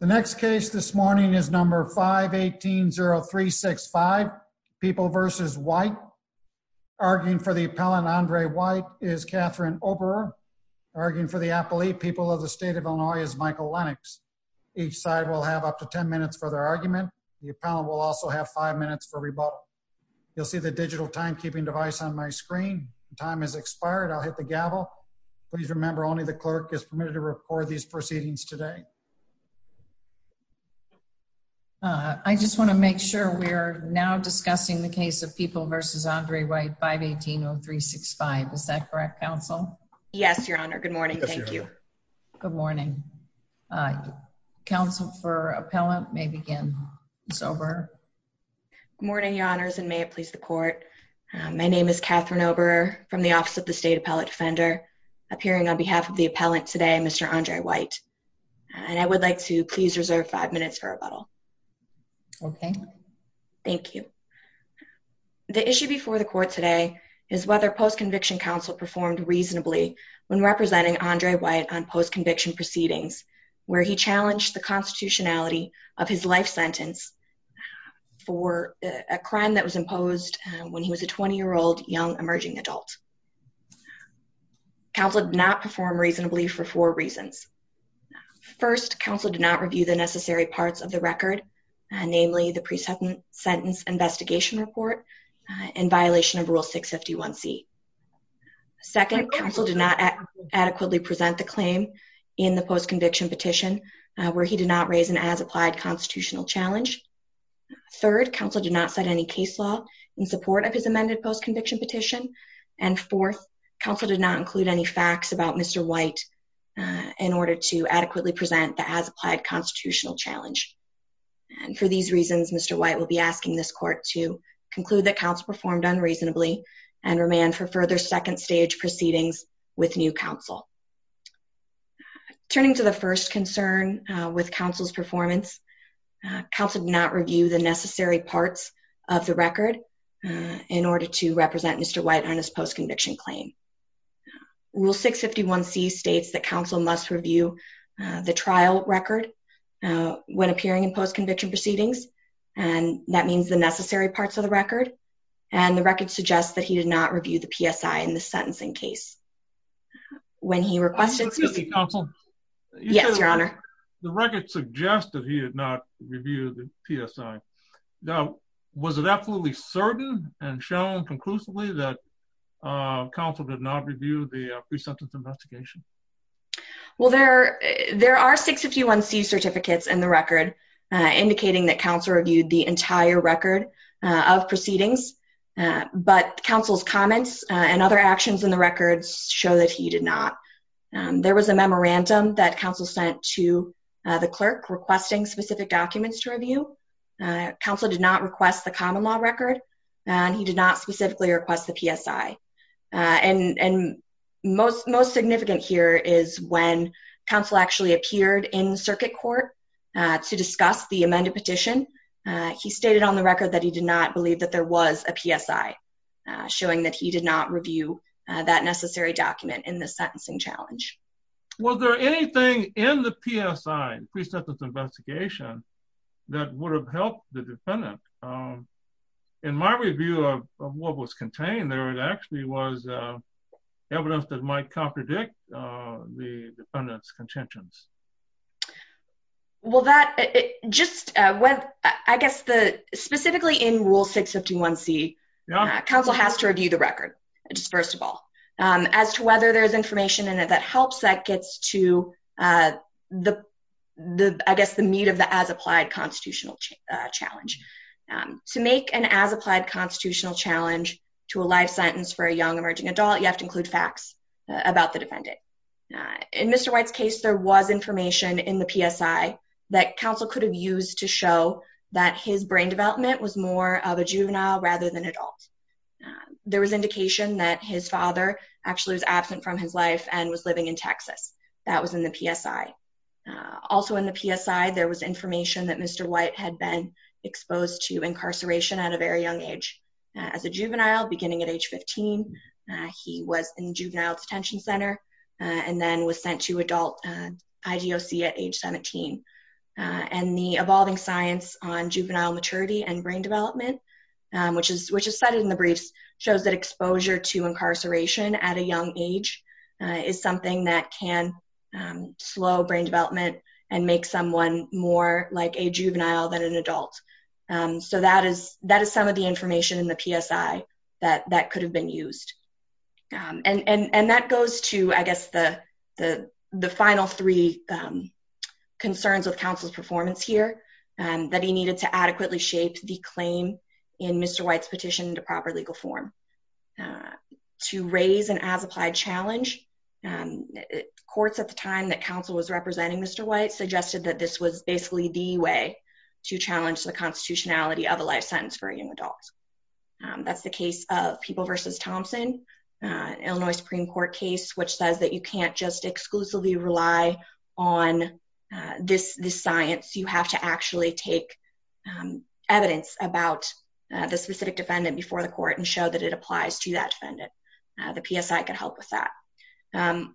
The next case this morning is number 518-0365, People v. White. Arguing for the appellant, Andre White, is Catherine Oberer. Arguing for the appellate, People of the State of Illinois, is Michael Lennox. Each side will have up to 10 minutes for their argument. The appellant will also have five minutes for rebuttal. You'll see the digital timekeeping device on my screen. Time has expired. I'll hit the gavel. Please remember only the clerk is permitted to record these proceedings today. I just want to make sure we're now discussing the case of People v. Andre White, 518-0365. Is that correct, counsel? Yes, your honor. Good morning. Thank you. Good morning. Counsel for appellant may begin. It's over. Good morning, your honors, and may it please the court. My name is Catherine Oberer from the Office of the State Appellate Defender. Appearing on behalf of the appellant today, Mr. Andre White. I would like to please reserve five minutes for rebuttal. Okay. Thank you. The issue before the court today is whether post-conviction counsel performed reasonably when representing Andre White on post-conviction proceedings where he challenged the constitutionality of his life sentence for a crime that was imposed when he was a 20 year old young emerging adult. Counsel did not perform reasonably for four reasons. First, counsel did not review the necessary parts of the record, namely the present sentence investigation report in violation of Rule 651C. Second, counsel did not adequately present the claim in the post-conviction petition where he did not raise an as-applied constitutional challenge. Third, counsel did not set any case law in support of his amended post-conviction petition. And fourth, counsel did not include any facts about Mr. White in order to adequately present the as-applied constitutional challenge. And for these reasons, Mr. White will be asking this court to conclude that counsel performed unreasonably and remand for further second stage proceedings with new counsel. Turning to the first concern with counsel's performance, counsel did not represent Mr. White on his post-conviction claim. Rule 651C states that counsel must review the trial record when appearing in post-conviction proceedings. And that means the necessary parts of the record. And the record suggests that he did not review the PSI in the sentencing case. When he requested specific counsel. Yes, your honor. The record suggested he did not review the PSI. Now, was it absolutely certain and shown conclusively that counsel did not review the pre-sentence investigation? Well, there are 651C certificates in the record indicating that counsel reviewed the entire record of proceedings. But counsel's comments and other actions in the records show that he did not. There was a memorandum that counsel sent to the clerk requesting specific documents to review. Counsel did not request the common law record and he did not specifically request the PSI. And most significant here is when counsel actually appeared in circuit court to discuss the amended petition. He stated on the record that he did not believe that there was a PSI, showing that he did not review that necessary document in the sentencing challenge. Was there anything in the PSI, the pre-sentence investigation, that would have helped the defendant? In my review of what was contained there, it actually was evidence that might contradict the defendant's contentions. Well, that just went, I guess, specifically in Rule 651C, counsel has to review the information in it that helps that gets to, I guess, the meat of the as-applied constitutional challenge. To make an as-applied constitutional challenge to a life sentence for a young emerging adult, you have to include facts about the defendant. In Mr. White's case, there was information in the PSI that counsel could have used to show that his brain development was more of a juvenile rather than adult. There was indication that his father actually was absent from his life and was living in Texas. That was in the PSI. Also in the PSI, there was information that Mr. White had been exposed to incarceration at a very young age. As a juvenile, beginning at age 15, he was in juvenile detention center and then was sent to adult IGOC at age 17. And the evolving science on juvenile maturity and brain development, which is cited in the briefs, shows that exposure to incarceration at a young age is something that can slow brain development and make someone more like a juvenile than an adult. That is some of the information in the PSI that could have been used. And that goes to, I guess, the final three concerns with counsel's performance here, that he needed to adequately shape the claim in Mr. White's petition into proper legal form to raise an as-applied challenge. Courts at the time that counsel was representing Mr. White suggested that this was basically the way to challenge the constitutionality of a life sentence for young adults. That's the case of People v. Thompson, Illinois Supreme Court case, which says that you can't exclusively rely on this science. You have to actually take evidence about the specific defendant before the court and show that it applies to that defendant. The PSI can help with that.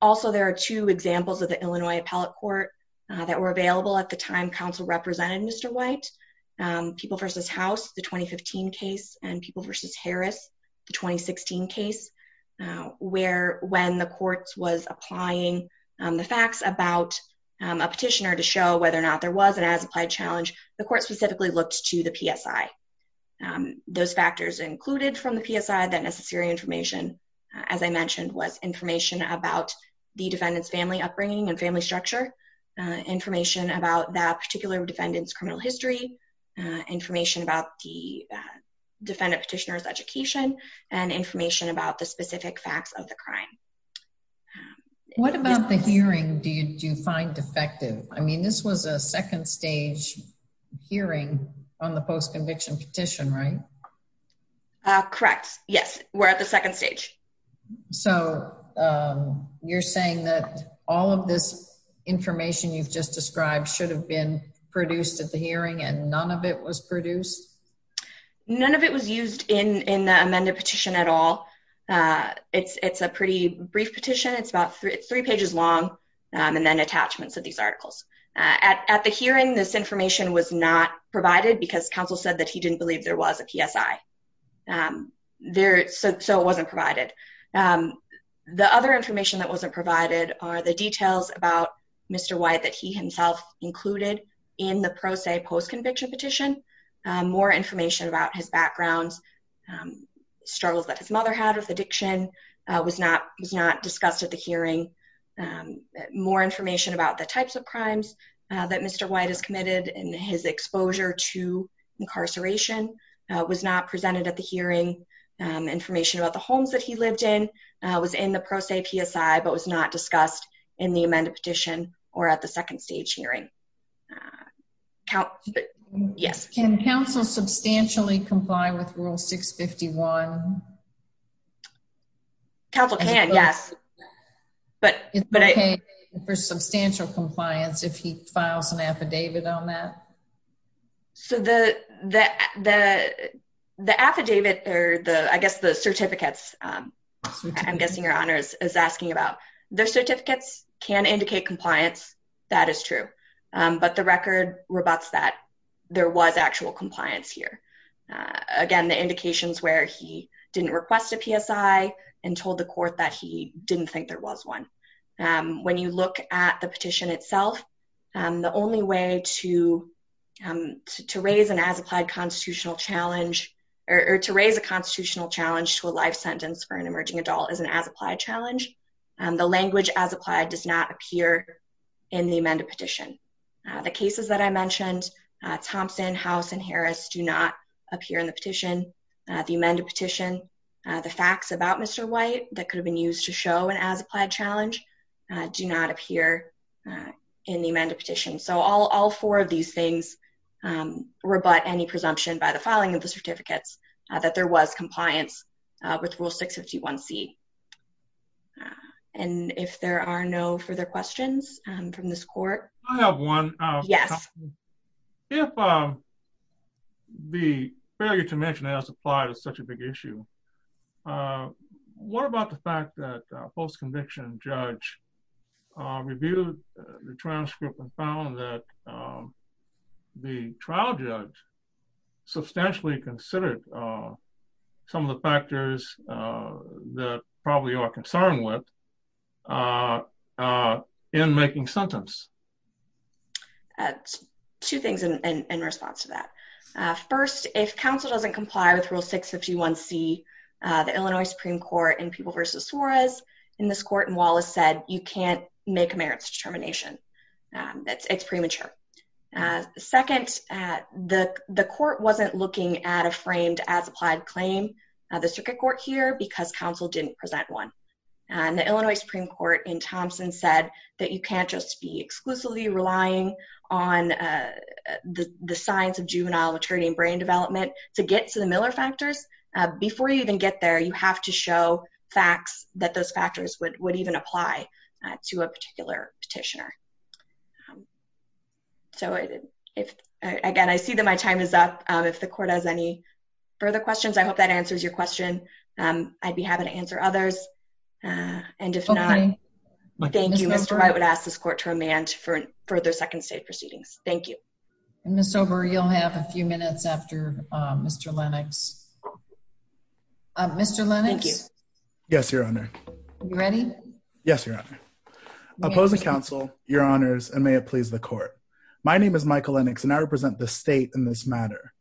Also, there are two examples of the Illinois Appellate Court that were available at the time counsel represented Mr. White, People v. House, the 2015 case, and People v. Harris, the 2016 case, where when the courts was applying the facts about a petitioner to show whether or not there was an as-applied challenge, the court specifically looked to the PSI. Those factors included from the PSI, that necessary information, as I mentioned, was information about the defendant's family upbringing and family structure, information about that particular defendant's criminal history, information about the defendant petitioner's education, and information about the specific facts of the crime. What about the hearing did you find defective? I mean, this was a second stage hearing on the post-conviction petition, right? Correct. Yes, we're at the second stage. So you're saying that all of this information you've just described should have been produced at the hearing and none of it was produced? None of it was used in the amended petition at all. It's a pretty brief petition. It's three pages long and then attachments of these articles. At the hearing, this information was not provided because counsel said that he didn't believe there was a PSI. So it wasn't provided. The other information that wasn't provided are the details about Mr. White that he himself included in the pro se post-conviction petition, more information about his backgrounds, struggles that his mother had with addiction was not discussed at the hearing, more information about the types of crimes that Mr. White has committed and his exposure to incarceration was not presented at the hearing. Information about the homes that he lived in was in the pro se PSI but was not discussed in the amended petition or at the second stage hearing. Yes. Can counsel substantially comply with rule 651? Counsel can, yes. It's okay for substantial compliance if he files an affidavit on that? So the affidavit or I guess the certificates, I'm guessing your honor is asking about, the certificates can indicate compliance. That is true. But the record rebutts that there was actual compliance here. Again, the indications where he didn't request a PSI and told the court that he didn't think there was one. When you look at the petition itself, the only way to raise an as-applied constitutional challenge or to raise a constitutional challenge to a life sentence for an emerging adult is an as-applied challenge. The language as-applied does not appear in the amended petition. The cases that I mentioned, Thompson, House, and Harris do not appear in the petition. The amended petition, the facts about Mr. White that could have been used to show an as-applied challenge do not appear in the amended petition. So all four of these things rebut any presumption by the filing of the certificates that there was compliance with Rule 651C. And if there are no further questions from this court. I have one. Yes. If the failure to mention as-applied is such a big issue, what about the fact that a post-conviction judge reviewed the transcript and found that the trial judge substantially considered some of the factors that probably you are concerned with in making a sentence? Two things in response to that. First, if counsel doesn't comply with Rule 651C, the Illinois Supreme Court in People v. Suarez in this court in Wallace said, you can't make a merits determination. It's premature. Second, the court wasn't looking at a framed as-applied claim, the circuit court here, because counsel didn't present one. The Illinois Supreme Court in Thompson said that you can't just be exclusively relying on the science of juvenile maturity and brain development to get to the Miller factors before you even get there. You have to show facts that those factors would even apply to a particular petitioner. So, again, I see that my time is up. If the court has any further questions, I hope that answers your question. I'd be happy to answer others. And if not, thank you. Mr. Wright would ask this court to amend further Second State Proceedings. Thank you. And, Ms. Sober, you'll have a few minutes after Mr. Lennox. Mr. Lennox? Thank you. Yes, Your Honor. Are you ready? Yes, Your Honor. I oppose the counsel, Your Honors, and may it please the court. My name is Michael Lennox, and I represent the state in this matter.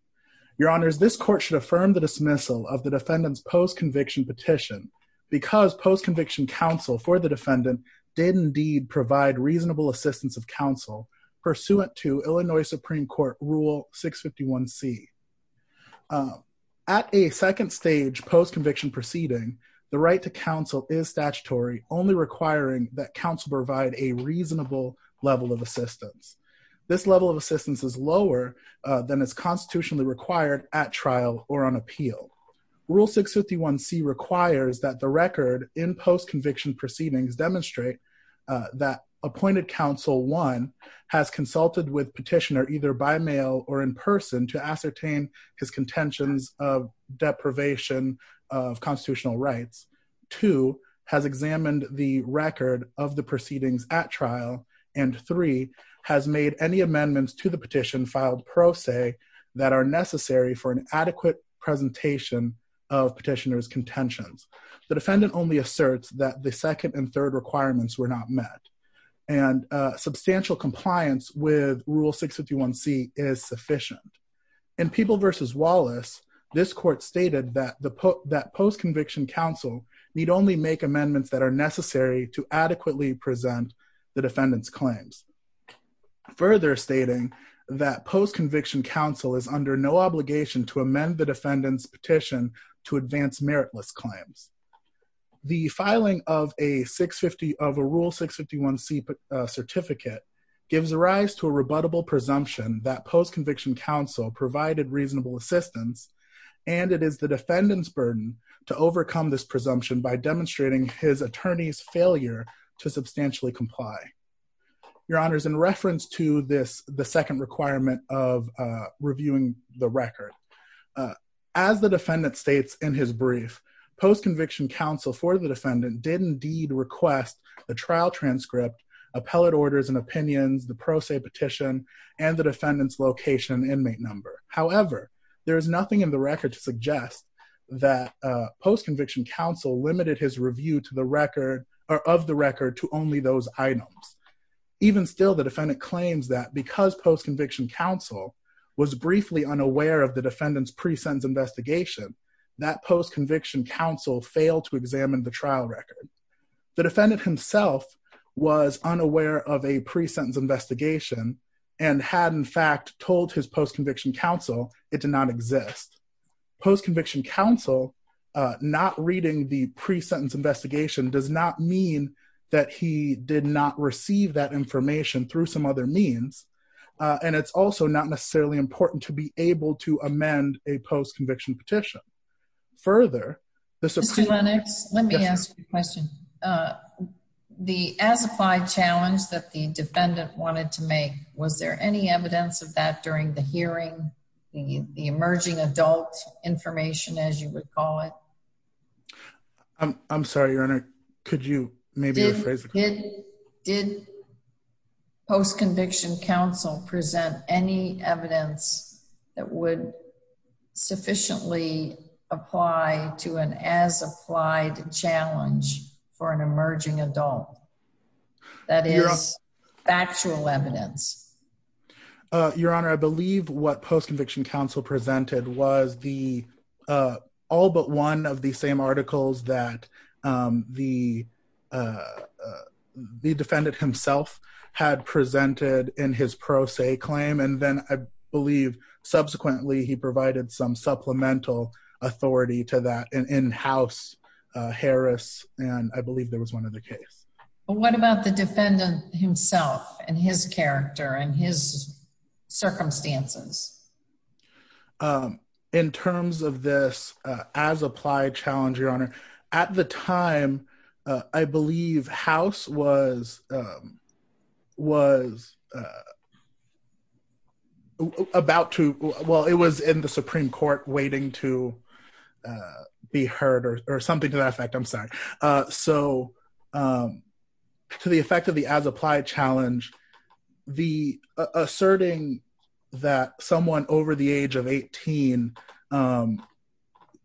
Your Honors, this court should affirm the dismissal of the defendant's post-conviction petition because post-conviction counsel for the defendant did indeed provide reasonable assistance of counsel pursuant to Illinois Supreme Court Rule 651C. At a second stage post-conviction proceeding, the right to counsel is statutory, only requiring that counsel provide a reasonable level of assistance. This level of assistance is lower than is constitutionally required at trial or on appeal. Rule 651C requires that the record in post-conviction proceedings demonstrate that appointed counsel, one, has consulted with petitioner either by mail or in person to ascertain his contentions of deprivation of constitutional rights, two, has examined the record of the proceedings at trial, and three, has made any amendments to the petition filed pro se that are necessary for an adequate presentation of petitioner's contentions. The defendant only met the requirements. Substantial compliance with Rule 651C is sufficient. In People v. Wallace, this court stated that post-conviction counsel need only make amendments that are necessary to adequately present the defendant's claims. Further stating that post-conviction counsel is under no obligation to amend the defendant's petition to advance meritless claims. The filing of a Rule 651C certificate gives rise to a rebuttable presumption that post-conviction counsel provided reasonable assistance, and it is the defendant's burden to overcome this presumption by demonstrating his attorney's failure to substantially comply. Your Honor, in reference to the second requirement of reviewing the record, as the defendant states in his brief, post-conviction counsel for the trial transcript, appellate orders and opinions, the pro se petition, and the defendant's location inmate number. However, there is nothing in the record to suggest that post-conviction counsel limited his review of the record to only those items. Even still, the defendant claims that because post-conviction counsel was briefly unaware of the defendant's pre-sentence investigation, that post-conviction counsel failed to examine the trial record. The defendant himself was unaware of a pre-sentence investigation and had in fact told his post-conviction counsel it did not exist. Post-conviction counsel not reading the pre-sentence investigation does not mean that he did not receive that information through some other means, and it's also not necessarily important to be able to amend a post-conviction petition. Further, Mr. Lennox, let me ask you a question. The as-applied challenge that the defendant wanted to make, was there any evidence of that during the hearing, the emerging adult information as you would call it? I'm sorry, Your Honor, could you maybe rephrase the question? Did post-conviction counsel present any evidence that would sufficiently apply to an as-applied challenge for an emerging adult? That is factual evidence. Your Honor, I believe what post-conviction counsel presented was the all but one of the same articles that the defendant himself had presented in his pro se claim, and then I believe subsequently he provided some supplemental authority to that in House Harris, and I believe there was one other case. What about the defendant himself and his character and his circumstances? In terms of this as-applied challenge, Your Honor, at the time I believe House was about to, well it was in the Supreme Court waiting to be heard or something to that effect, I'm sorry. So to the effect of the as-applied challenge, the asserting that someone over the age of 18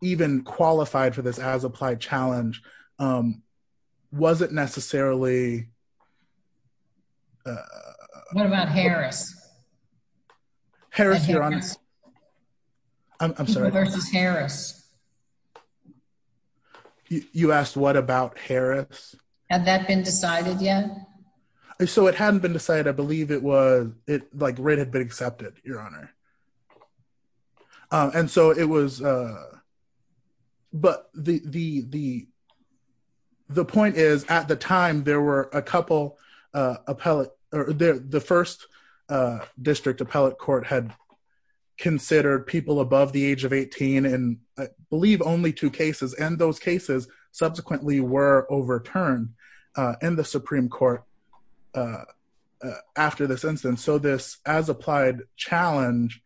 even qualified for this as-applied challenge wasn't necessarily... What about Harris? Harris, Your Honor, I'm sorry. People versus Harris. You asked what about Harris? Had that been decided yet? So it hadn't been decided, I believe it was, like, writ had been accepted, Your Honor, and so it was, but the point is at the time there were a couple appellate or the first district appellate court had considered people above the age of 18 and I believe only two cases and those cases subsequently were overturned in the Supreme Court after this instance. So this as-applied challenge,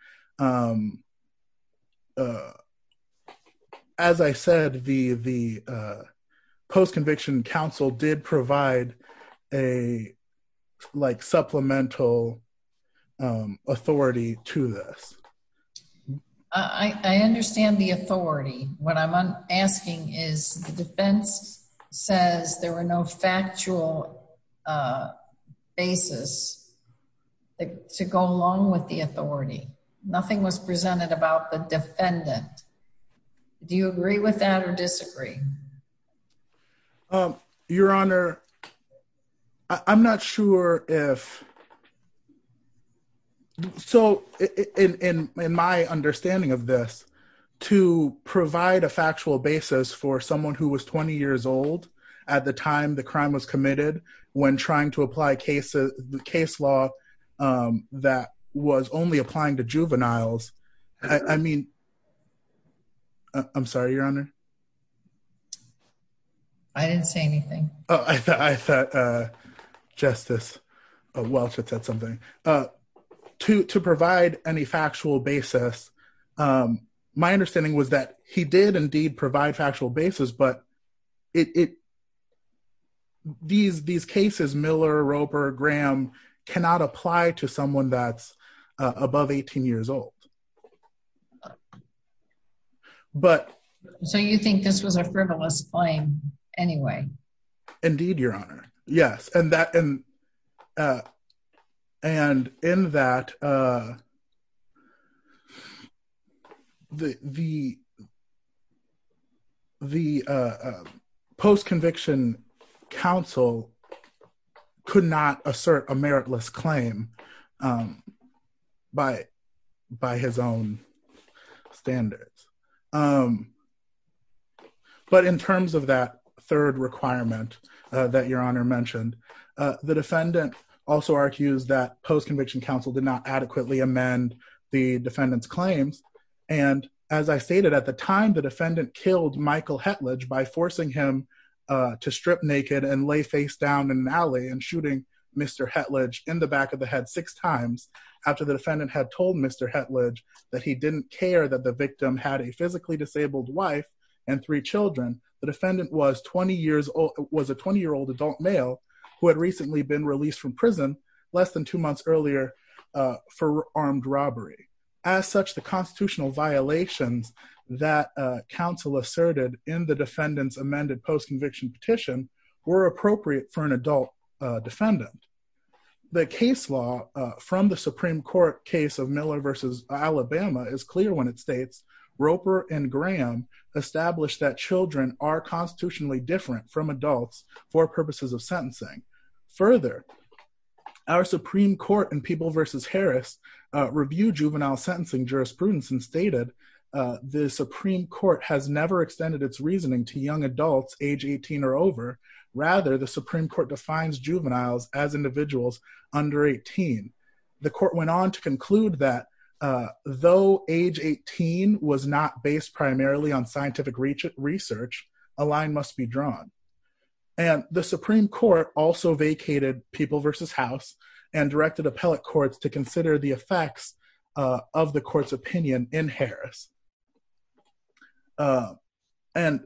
as I said, the post-conviction counsel did provide a, like, supplemental authority to this. I understand the authority. What I'm asking is the defense says there were no factual basis to go along with the authority. Nothing was presented about the defendant. Do you agree with that or disagree? Your Honor, I'm not sure if... So in my understanding of this, to provide a factual basis for someone who was 20 years old at the time the crime was committed when trying to apply the case law that was only applying to juveniles, I mean, I'm sorry, Your Honor. I didn't say anything. I thought Justice Welch had said something. To provide any factual basis, my understanding was that he did indeed provide factual basis, but these cases, Miller, Roper, Graham, cannot apply to someone that's above 18 years old. So you think this was a frivolous claim anyway? Indeed, Your Honor. Yes. And in that, the post-conviction counsel could not assert a meritless claim by his own standards. But in terms of that third requirement that Your Honor mentioned, the defendant also argues that post-conviction counsel did not adequately amend the defendant's claims. And as I stated, at the time the defendant killed Michael Hetlage by forcing him to strip naked and lay face down in an alley and shooting Mr. Hetlage in the back of the head six times after the defendant had told Mr. Hetlage that he didn't care that the victim had a physically disabled wife and three children, the defendant was a 20-year-old adult male who had recently been released from prison less than two months earlier for armed robbery. As such, the constitutional violations that counsel asserted in the defendant's amended post-conviction petition were appropriate for an adult defendant. The case law from the Supreme Court case of Miller v. Alabama is clear when it states Roper and Graham established that children are constitutionally different from adults for purposes of sentencing. Further, our Supreme Court in People v. Harris reviewed juvenile sentencing jurisprudence and stated the Supreme Court has never extended its reasoning to young juveniles as individuals under 18. The court went on to conclude that though age 18 was not based primarily on scientific research, a line must be drawn. And the Supreme Court also vacated People v. House and directed appellate courts to consider the effects of the court's opinion in Harris. And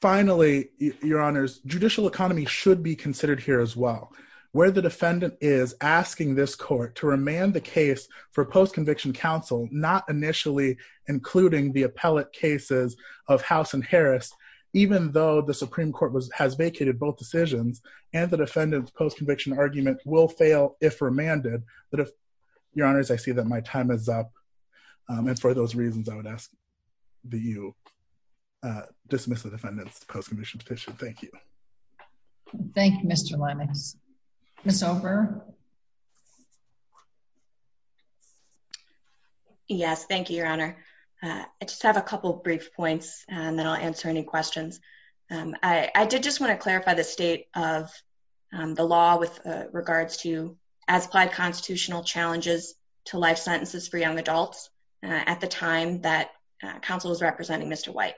finally, your honors, judicial economy should be considered here as well. Where the defendant is asking this court to remand the case for post-conviction counsel, not initially including the appellate cases of House and Harris, even though the Supreme Court has vacated both decisions and the defendant's post-conviction argument will fail if remanded. But if, your honors, I see that time is up. And for those reasons, I would ask that you dismiss the defendant's post-conviction petition. Thank you. Thank you, Mr. Lemus. Ms. Ofer. Yes, thank you, your honor. I just have a couple brief points and then I'll answer any questions. I did just want to clarify the state of the law with regards to as applied constitutional challenges to life sentences for young adults at the time that counsel was representing Mr. White.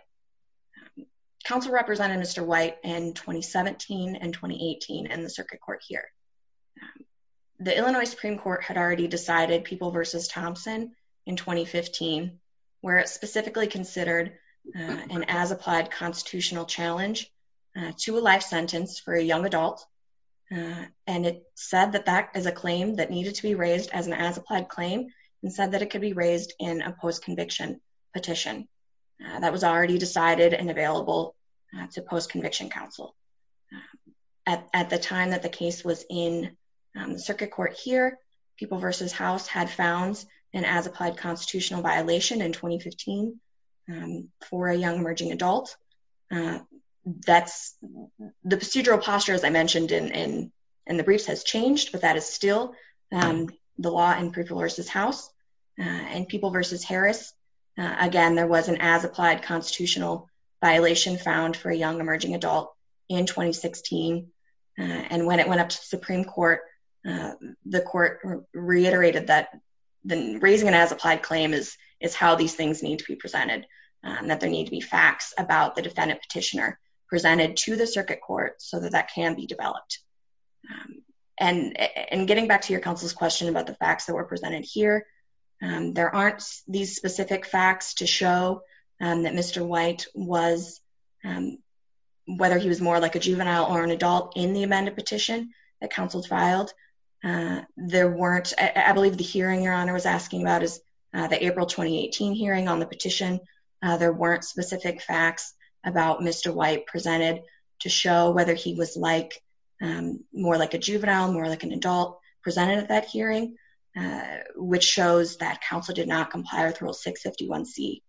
Counsel represented Mr. White in 2017 and 2018 in the circuit court here. The Illinois Supreme Court had already decided People v. Thompson in 2015, where it specifically considered an as applied constitutional challenge to a life sentence for a young adult. And it said that that is a claim that needed to be raised as an as applied claim and said that it could be raised in a post-conviction petition that was already decided and available to post-conviction counsel. At the time that the case was in the circuit court here, People v. House had found an as applied constitutional violation in 2015 for a young emerging adult. That's the procedural posture, as I mentioned in the briefs, has changed, but that is still the law in People v. House. In People v. Harris, again, there was an as applied constitutional violation found for a young emerging adult in 2016. And when it went up to the Supreme Court, the court reiterated that the raising an as applied claim is how these things need to be presented, that there need to be facts about the defendant petitioner presented to the circuit court so that that can be developed. And getting back to your counsel's question about the facts that were presented here, there aren't these specific facts to show that Mr. White was, whether he was more like a juvenile or an adult in the amended petition that counsel filed, there weren't, I believe the hearing your honor was asking about is the April 2018 hearing on the petition, there weren't specific facts about Mr. White presented to show whether he was like, more like a juvenile, more like an adult presented at that hearing, which shows that counsel did not comply with rule 651c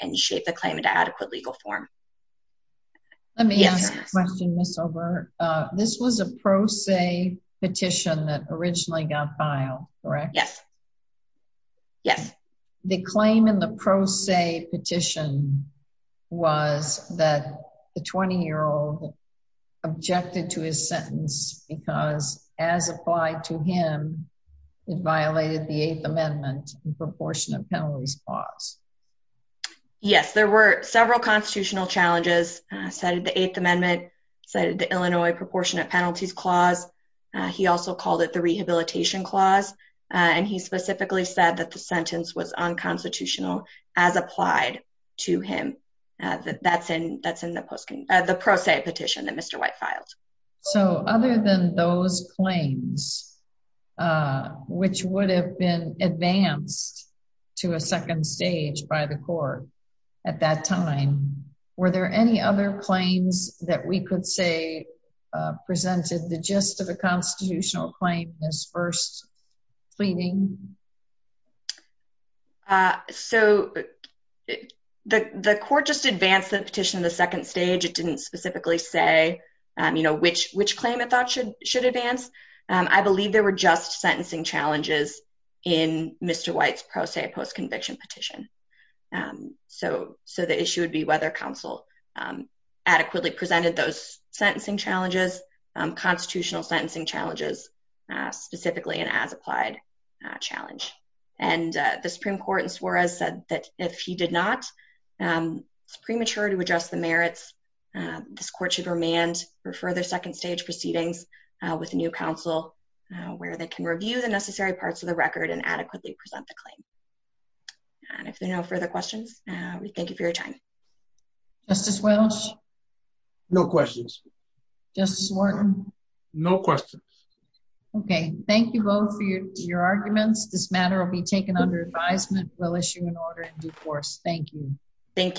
and shape the claim into adequate legal form. Let me ask a question, Ms. Obert. This was a pro se petition that originally got filed, correct? Yes. Yes. The claim in the pro se petition was that the 20-year-old objected to his sentence because as applied to him, it violated the Eighth Amendment and proportionate penalties clause. Yes, there were several constitutional challenges cited the Eighth Amendment, cited the Illinois proportionate penalties clause, he also called it the rehabilitation clause, and he specifically said that the sentence was unconstitutional as applied to him. That's in the pro se petition that Mr. White filed. So other than those claims, which would have been advanced to a second stage by the court at that time, were there any other claims that we could say presented the gist of a claiming? So the court just advanced the petition to the second stage. It didn't specifically say which claim it thought should advance. I believe there were just sentencing challenges in Mr. White's pro se post-conviction petition. So the issue would be whether counsel adequately presented those sentencing challenges, constitutional sentencing challenges, specifically an as-applied challenge. And the Supreme Court in Suarez said that if he did not, it's premature to address the merits. This court should remand for further second stage proceedings with a new counsel where they can review the necessary parts of the record and adequately present the claim. And if there are no further questions, we thank you for your time. Justice Walsh? No questions. Justice Wharton? No questions. Okay. Thank you both for your arguments. This matter will be taken under advisement. We'll issue an order in due course. Thank you. Thank you.